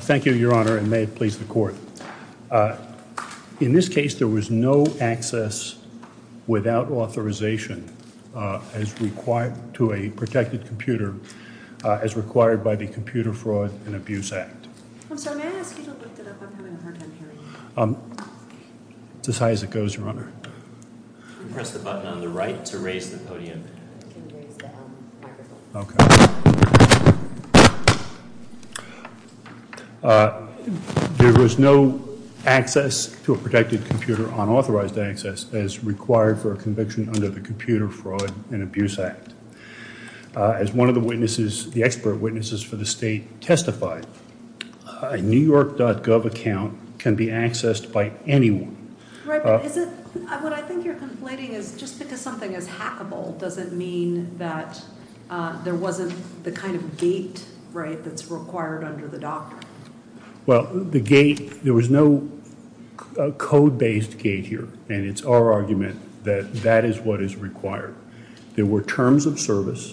Thank you your honor and may it please the court. In this case there was no access without authorization as required to a protected computer as required by the Computer Fraud and Abuse Act. There was no access to a protected computer on authorized access as required for a conviction under the Computer Fraud and Abuse Act. As one of the witnesses, the expert witnesses for the state testified, a newyork.gov account can be accessed by anyone. Right, but is it, what I think you're conflating is just because something is hackable doesn't mean that there wasn't the kind of gate, right, that's required under the doctrine. Well the gate, there was no code-based gate here and it's our argument that that is what is required. There were terms of service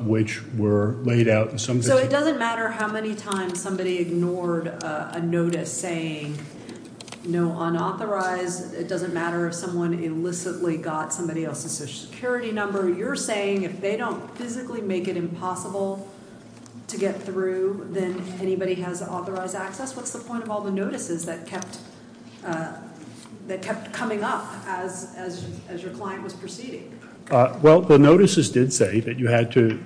which were laid out in some. So it doesn't matter how many times somebody ignored a notice saying no unauthorized, it doesn't matter if someone illicitly got somebody else's social security number, you're saying if they don't physically make it impossible to get through then anybody has authorized access? What's the point of all the notices that kept coming up as your client was proceeding? Well the notices did say that you had to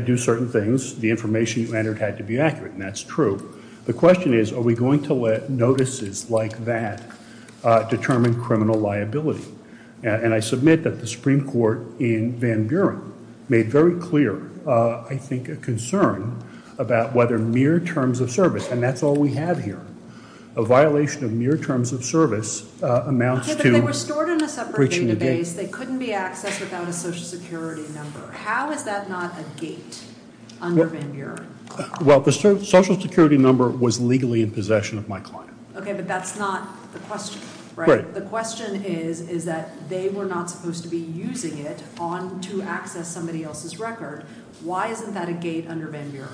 do certain things, the information you entered had to be accurate and that's true. The question is are we going to let notices like that determine criminal liability? And I submit that the Supreme Court in Van Buren made very clear, I think, a concern about whether mere terms of service, and that's all we have here, a violation of mere terms of service amounts to breaching a gate. Okay, but they were stored in a separate database, they couldn't be accessed without a social security number. How is that not a gate under Van Buren? Well the social security number was legally in possession of my client. Okay, but that's not the question, right? The question is that they were not supposed to be using it to access somebody else's record. Why isn't that a gate under Van Buren?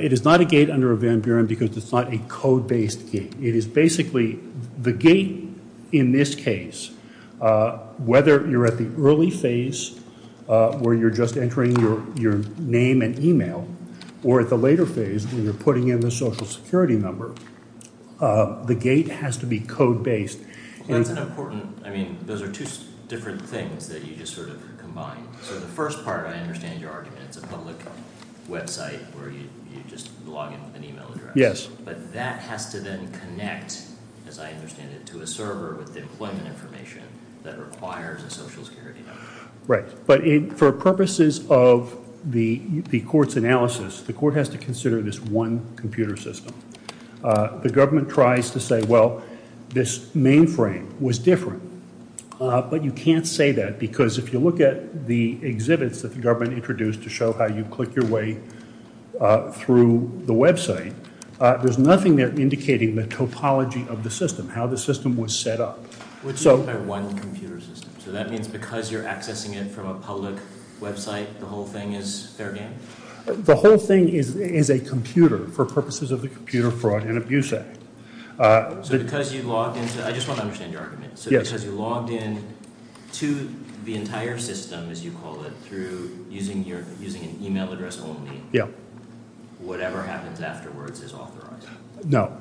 It is not a gate under Van Buren because it's not a code-based gate. It is basically the gate in this case, whether you're at the early phase where you're just entering your name and email, or at the later phase when you're putting in the social security number, the gate has to be code-based. That's an important, I mean, those are two different things that you just sort of combined. So the first part, I understand your argument, it's a public website where you just log in with an email address. Yes. But that has to then connect, as I understand it, to a server with the employment information that requires a social security number. Right, but for purposes of the court's analysis, the court has to consider this one computer system. The government tries to say, well, this mainframe was different. But you can't say that because if you look at the exhibits that the government introduced to show how you click your way through the website, there's nothing there indicating the topology of the system, how the system was set up. What do you mean by one computer system? So that means because you're accessing it from a public website, the whole thing is fair game? The whole thing is a computer, for purposes of the computer fraud and abuse act. So because you logged into, I just want to understand your argument, so because you logged in to the entire system, as you call it, through using an email address only, whatever happens afterwards is authorized? No.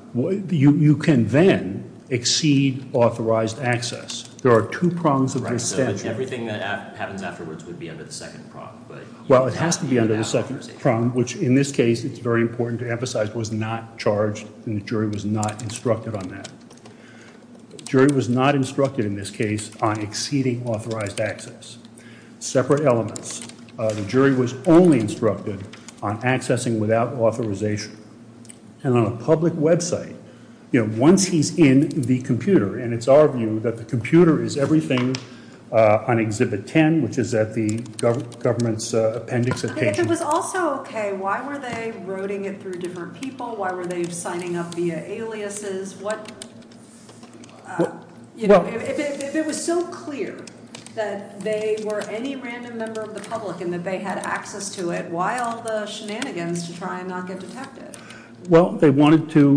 You can then exceed authorized access. There are two prongs of the statute. Right, so everything that happens afterwards would be under the second prong, but you would have to be under the second prong, which in this case, it's very important to emphasize, was not charged and the jury was not instructed on that. Jury was not instructed in this case on exceeding authorized access. Separate elements. The jury was only instructed on accessing without authorization. And on a public website, once he's in the computer, and it's our view that the computer is everything on Exhibit 10, which is at the government's appendix at page 10. If it was also okay, why were they roading it through different people? Why were they signing up via aliases? What, you know, if it was so clear that they were any random member of the public and that they had access to it, why all the shenanigans to try and not get detected? Well, they wanted to,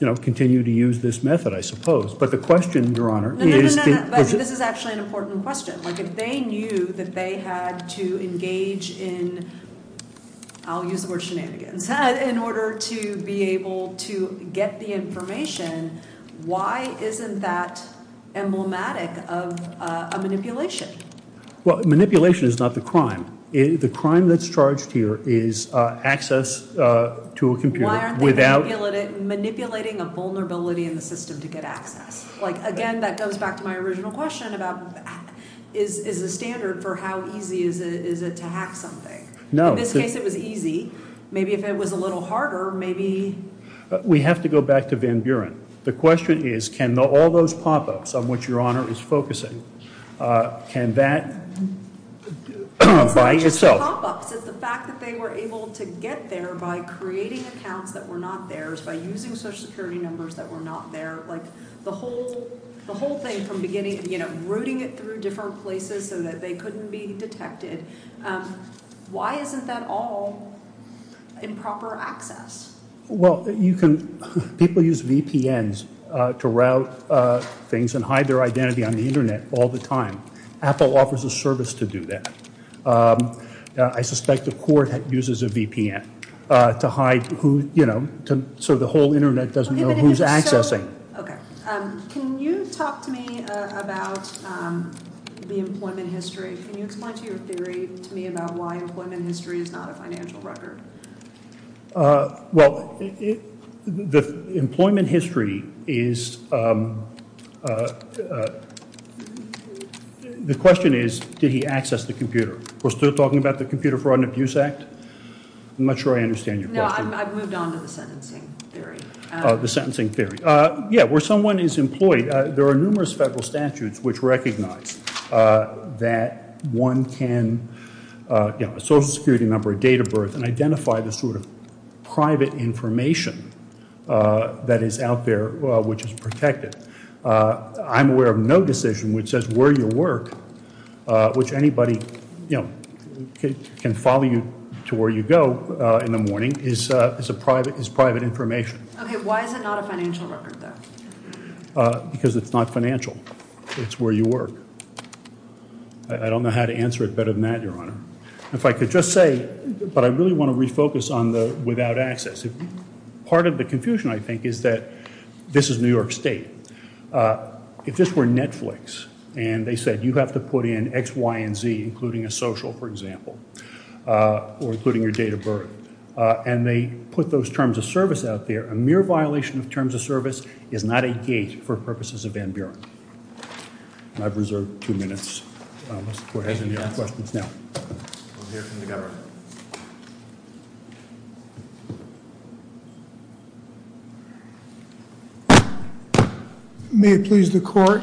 you know, continue to use this method, I suppose. But the question, Your Honor, is... No, no, no, no. This is actually an important question. Like, if they knew that they had to engage in, I'll use the word shenanigans, in order to be able to get the information, why isn't that emblematic of a manipulation? Well, manipulation is not the crime. The crime that's charged here is access to a computer without... Like, again, that goes back to my original question about, is the standard for how easy is it to hack something? No. In this case, it was easy. Maybe if it was a little harder, maybe... We have to go back to Van Buren. The question is, can all those pop-ups, on which Your Honor is focusing, can that by itself... It's not just pop-ups. It's the fact that they were able to get there by creating accounts that were not theirs, by using social security numbers that were not theirs. Like, the whole thing from beginning, you know, routing it through different places so that they couldn't be detected. Why isn't that all improper access? Well, you can... People use VPNs to route things and hide their identity on the internet all the time. Apple offers a service to do that. I suspect the court uses a VPN to hide who, you know, so the whole internet doesn't know who's accessing. Can you talk to me about the employment history? Can you explain to me your theory about why employment history is not a financial record? Well, the employment history is... The question is, did he access the computer? We're still talking about the Computer Fraud and Abuse Act? I'm not sure I understand your question. No, I've moved on to the sentencing theory. Yeah, where someone is employed, there are numerous federal statutes which recognize that one can, you know, a social security number, a date of birth, and identify the sort of private information that is out there which is protected. I'm aware of no decision which says where you work, which anybody, you know, can follow you to where you go in the morning, is private information. Okay, why is it not a financial record, though? Because it's not financial. It's where you work. I don't know how to answer it better than that, Your Honor. If I could just say, but I really want to refocus on the without access. Part of the confusion, I think, is that this is New York State. If this were Netflix and they said you have to put in X, Y, and Z, including a social, for example, or including your date of birth, and they put those terms of service out there a mere violation of terms of service is not a gate for purposes of Van Buren. I've reserved two minutes, unless the Court has any other questions now. May it please the Court.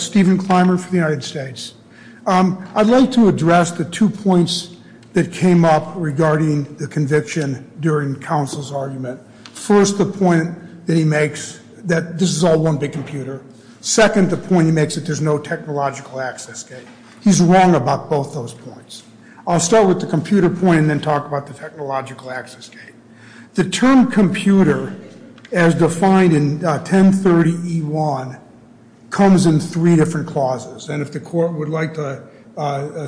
Stephen Clymer for the United States. I'd like to address the two points that came up regarding the conviction during counsel's appointment that he makes that this is all one big computer. Second, the point he makes that there's no technological access gate. He's wrong about both those points. I'll start with the computer point and then talk about the technological access gate. The term computer, as defined in 1030E1, comes in three different clauses. And if the Court would like to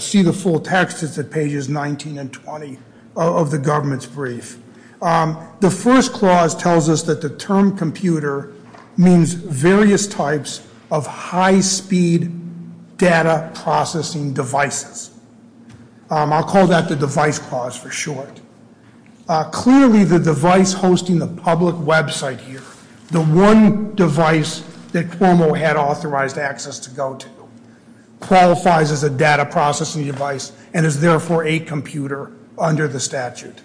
see the full text, it's at pages 19 and 20 of the government's brief. The first clause tells us that the term computer means various types of high-speed data processing devices. I'll call that the device clause for short. Clearly, the device hosting the public website here, the one device that Cuomo had authorized access to go to, qualifies as a data processing device and is therefore a computer under the statute.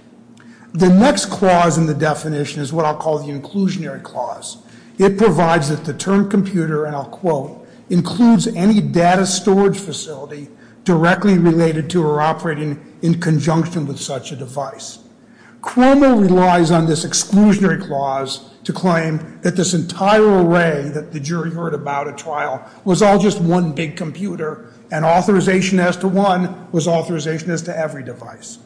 The next clause in the definition is what I'll call the inclusionary clause. It provides that the term computer, and I'll quote, includes any data storage facility directly related to or operating in conjunction with such a device. Cuomo relies on this exclusionary clause to claim that this entire array that the jury heard about at trial was all just one big computer and authorization as to one was authorization as to every device.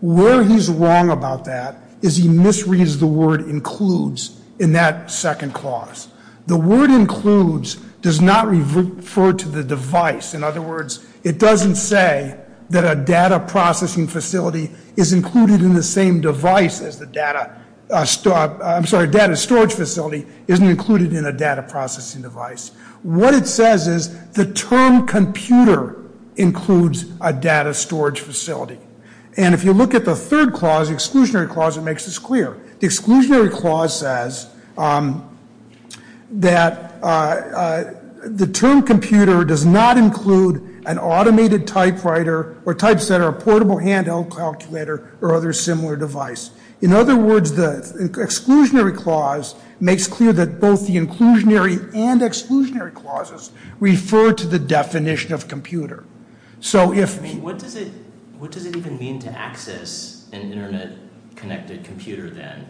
Where he's wrong about that is he misreads the word includes in that second clause. The word includes does not refer to the device. In other words, it doesn't say that a data processing facility is included in the same device as the data storage facility isn't included in a data processing device. What it says is the term computer includes a data storage facility. And if you look at the third clause, the exclusionary clause, it makes this clear. The exclusionary clause says that the term computer does not include an automated typewriter or typesetter, a portable handheld calculator, or other similar device. In other words, the exclusionary clause makes clear that both the inclusionary and exclusionary clauses refer to the definition of computer. So if- I mean, what does it even mean to access an internet-connected computer then?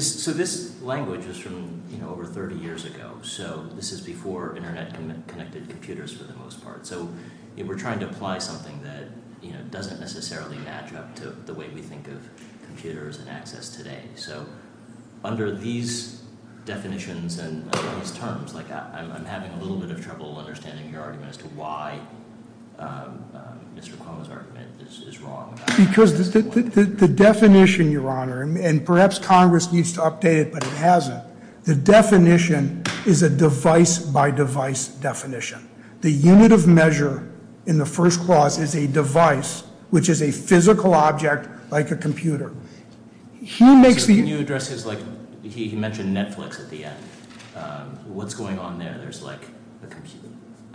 So this language is from over 30 years ago. So this is before internet-connected computers for the most part. So we're trying to apply something that doesn't necessarily match up to the way we think of computers and access today. So under these definitions and these terms, I'm having a little bit of trouble understanding your argument as to why Mr. Cuomo's argument is wrong. Because the definition, Your Honor, and perhaps Congress needs to update it, but it hasn't. The definition is a device-by-device definition. The unit of measure in the first clause is a device, which is a physical object like a computer. He makes the- Can you address his, like, he mentioned Netflix at the end. What's going on there? There's like a computer.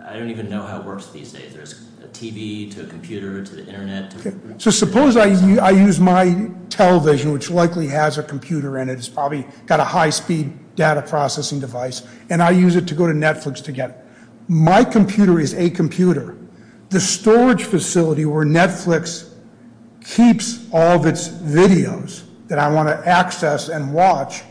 I don't even know how it works these days. There's a TV to a computer to the internet. So suppose I use my television, which likely has a computer in it. It's probably got a high-speed data processing device. And I use it to go to Netflix to get- My computer is a computer. The storage facility where Netflix keeps all of its videos that I want to access and watch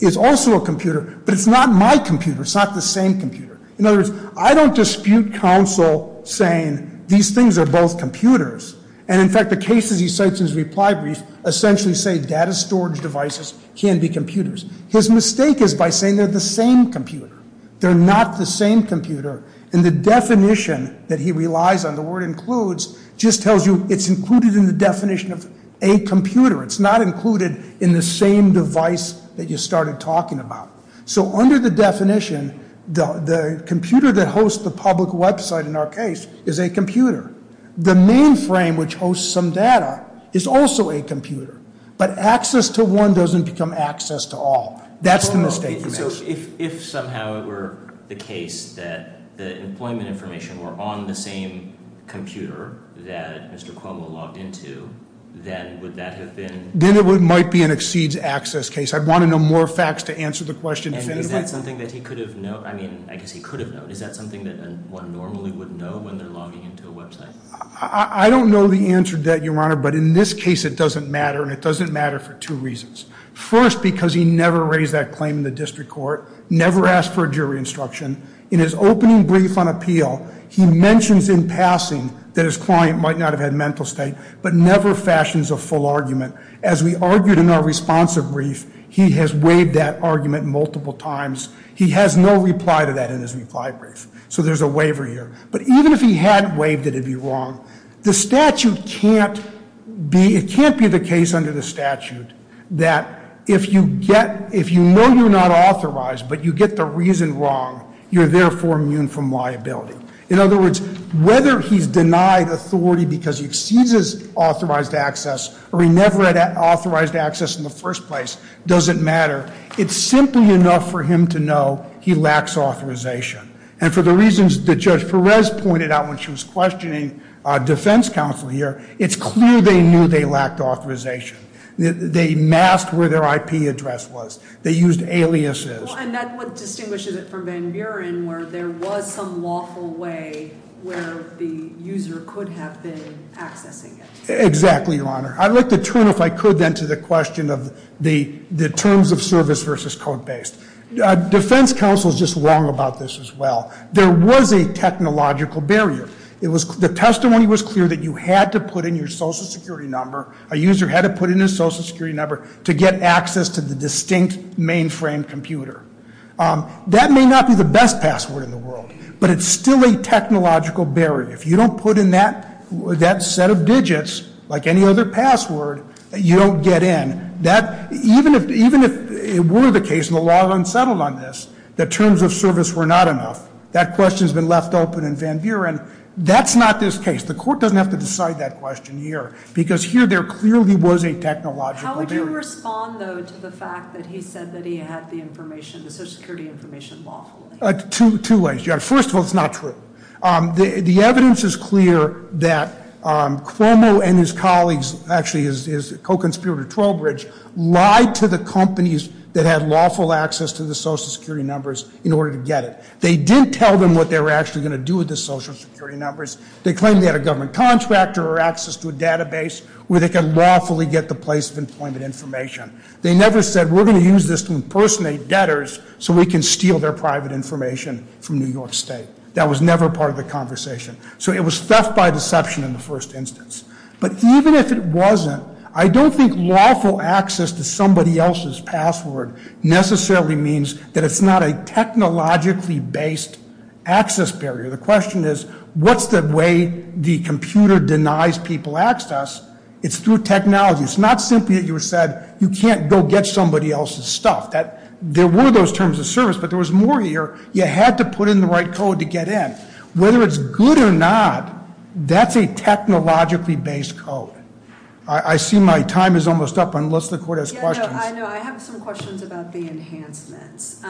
is also a computer. But it's not my computer. It's not the same computer. In other words, I don't dispute counsel saying these things are both computers. And in fact, the cases he cites in his reply brief essentially say data storage devices can be computers. His mistake is by saying they're the same computer. They're not the same computer. And the definition that he relies on, the word includes, just tells you it's included in the definition of a computer. It's not included in the same device that you started talking about. So under the definition, the computer that hosts the public website in our case is a computer. The mainframe, which hosts some data, is also a computer. But access to one doesn't become access to all. That's the mistake he makes. So if somehow it were the case that the employment information were on the same computer that Mr. Cuomo logged into, then would that have been- Then it might be an exceeds access case. I'd want to know more facts to answer the question. And is that something that he could have known? I mean, I guess he could have known. Is that something that one normally would know when they're logging into a website? I don't know the answer to that, Your Honor. But in this case, it doesn't matter. And it doesn't matter for two reasons. First, because he never raised that claim in the district court, never asked for a jury instruction. In his opening brief on appeal, he mentions in passing that his client might not have had mental state, but never fashions a full argument. As we argued in our responsive brief, he has waived that argument multiple times. He has no reply to that in his reply brief. So there's a waiver here. But even if he had waived it, it'd be wrong. The statute can't be- it can't be the case under the statute that if you get- if you know you're not authorized, but you get the reason wrong, you're therefore immune from liability. In other words, whether he's denied authority because he exceeds his authorized access, or he never had authorized access in the first place, doesn't matter. It's simply enough for him to know he lacks authorization. And for the reasons that Judge Perez pointed out when she was questioning defense counsel here, it's clear they knew they lacked authorization. They masked where their IP address was. They used aliases. And that's what distinguishes it from Van Buren, where there was some lawful way where the user could have been accessing it. Exactly, Your Honor. I'd like to turn, if I could then, to the question of the terms of service versus code based. Defense counsel is just wrong about this as well. There was a technological barrier. It was- the testimony was clear that you had to put in your social security number. A user had to put in his social security number to get access to the distinct mainframe computer. That may not be the best password in the world, but it's still a technological barrier. If you don't put in that set of digits, like any other password, you don't get in. Even if it were the case, and the law had unsettled on this, that terms of service were not enough. That question's been left open in Van Buren. That's not this case. The court doesn't have to decide that question here. Because here, there clearly was a technological barrier. How would you respond, though, to the fact that he said that he had the information, the social security information lawfully? Two ways, Your Honor. First of all, it's not true. The evidence is clear that Cuomo and his colleagues, actually his co-conspirator Trowbridge, lied to the companies that had lawful access to the social security numbers in order to get it. They didn't tell them what they were actually going to do with the social security numbers. They claimed they had a government contractor or access to a database where they can lawfully get the place of employment information. They never said, we're going to use this to impersonate debtors so we can steal their private information from New York State. That was never part of the conversation. So it was theft by deception in the first instance. But even if it wasn't, I don't think lawful access to somebody else's password necessarily means that it's not a technologically based access barrier. The question is, what's the way the computer denies people access? It's through technology. It's not simply that you said, you can't go get somebody else's stuff. There were those terms of service, but there was more here. You had to put in the right code to get in. Whether it's good or not, that's a technologically based code. I see my time is almost up unless the court has questions. I know. I have some questions about the enhancements.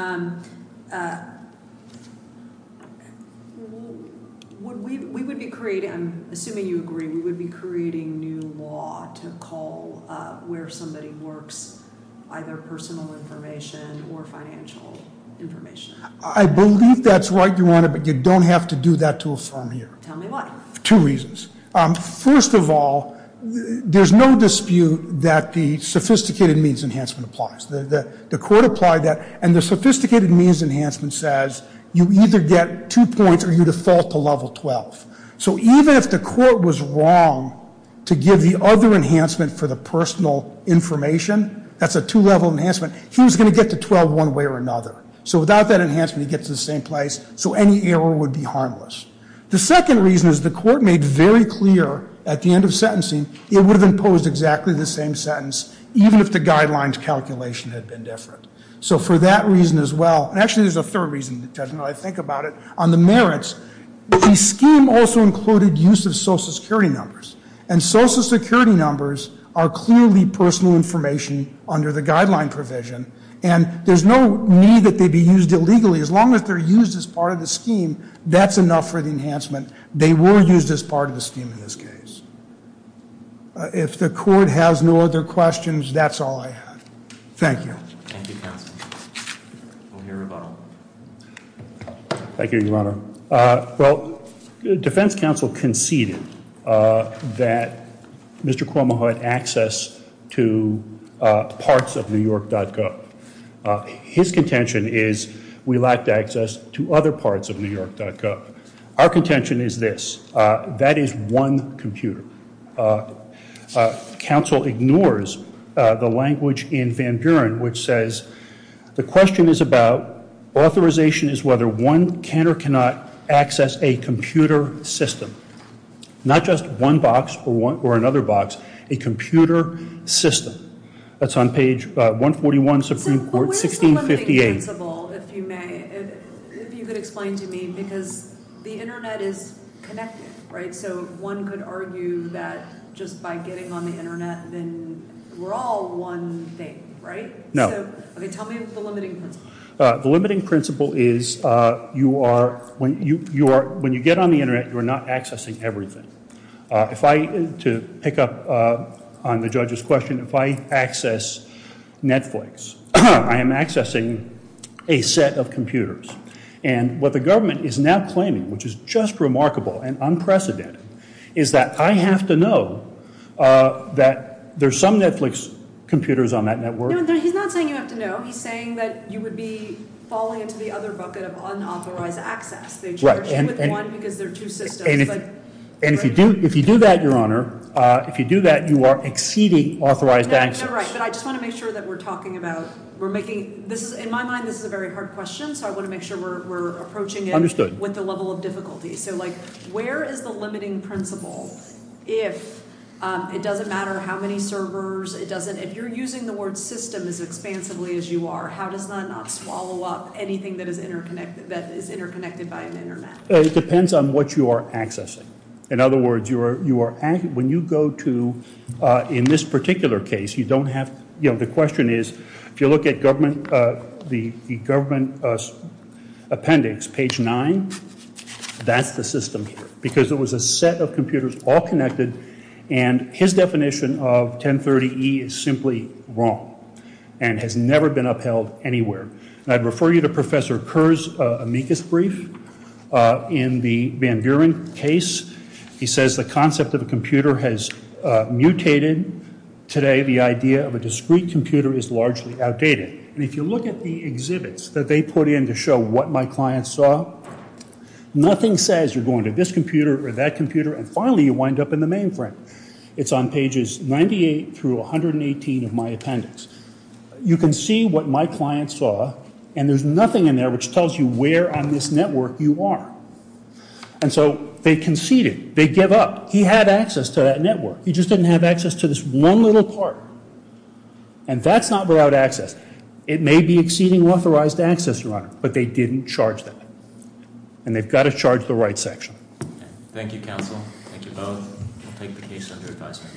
We would be creating, I'm assuming you agree, we would be creating new law to call where somebody works either personal information or financial information. I believe that's right, Your Honor, but you don't have to do that to affirm here. Tell me why. Two reasons. First of all, there's no dispute that the sophisticated means enhancement applies. The court applied that. And the sophisticated means enhancement says you either get two points or you default to level 12. So even if the court was wrong to give the other enhancement for the personal information, that's a two level enhancement, he was going to get to 12 one way or another. So without that enhancement, he gets the same place. So any error would be harmless. The second reason is the court made very clear at the end of sentencing, it would have imposed exactly the same sentence, even if the guidelines calculation had been different. So for that reason as well, and actually there's a third reason, I think about it, on the merits. The scheme also included use of social security numbers. And social security numbers are clearly personal information under the guideline provision. And there's no need that they be used illegally. As long as they're used as part of the scheme, that's enough for the enhancement. They were used as part of the scheme in this case. If the court has no other questions, that's all I have. Thank you. Thank you, counsel. We'll hear a rebuttal. Thank you, Your Honor. Well, defense counsel conceded that Mr. Cuomo had access to parts of New York.gov. His contention is we lacked access to other parts of New York.gov. Our contention is this, that is one computer. Counsel ignores the language in Van Buren which says, the question is about authorization is whether one can or cannot access a computer system. Not just one box or another box, a computer system. That's on page 141, Supreme Court, 1658. But what is the limiting principle, if you may, if you could explain to me. Because the internet is connected, right? So one could argue that just by getting on the internet, then we're all one thing, right? No. Okay, tell me the limiting principle. The limiting principle is when you get on the internet, you're not accessing everything. If I, to pick up on the judge's question, if I access Netflix, I am accessing a set of computers. And what the government is now claiming, which is just remarkable and unprecedented, is that I have to know that there's some Netflix computers on that network. He's not saying you have to know. He's saying that you would be falling into the other bucket of unauthorized access. They charge you with one because there are two systems. And if you do that, Your Honor, if you do that, you are exceeding authorized access. Right, but I just want to make sure that we're talking about, we're making, this is, in my mind, this is a very hard question. So I want to make sure we're approaching it with the level of difficulty. So like, where is the limiting principle if it doesn't matter how many servers, it doesn't, if you're using the word system as expansively as you are, how does that not swallow up anything that is interconnected by an internet? It depends on what you are accessing. In other words, you are, when you go to, in this particular case, you don't have, you know, the question is, if you look at government, the government appendix, page nine, that's the system here. Because it was a set of computers all connected, and his definition of 1030E is simply wrong and has never been upheld anywhere. And I'd refer you to Professor Kerr's amicus brief in the Van Buren case. He says the concept of a computer has mutated. Today, the idea of a discrete computer is largely outdated. And if you look at the exhibits that they put in to show what my client saw, nothing says you're going to this computer or that computer, and finally, you wind up in the mainframe. It's on pages 98 through 118 of my appendix. You can see what my client saw, and there's nothing in there which tells you where on this network you are. And so they conceded. They give up. He had access to that network. He just didn't have access to this one little part. And that's not without access. It may be exceeding authorized access, Your Honor, but they didn't charge them. And they've got to charge the right section. Thank you, counsel. Thank you both. We'll take the case under advisory.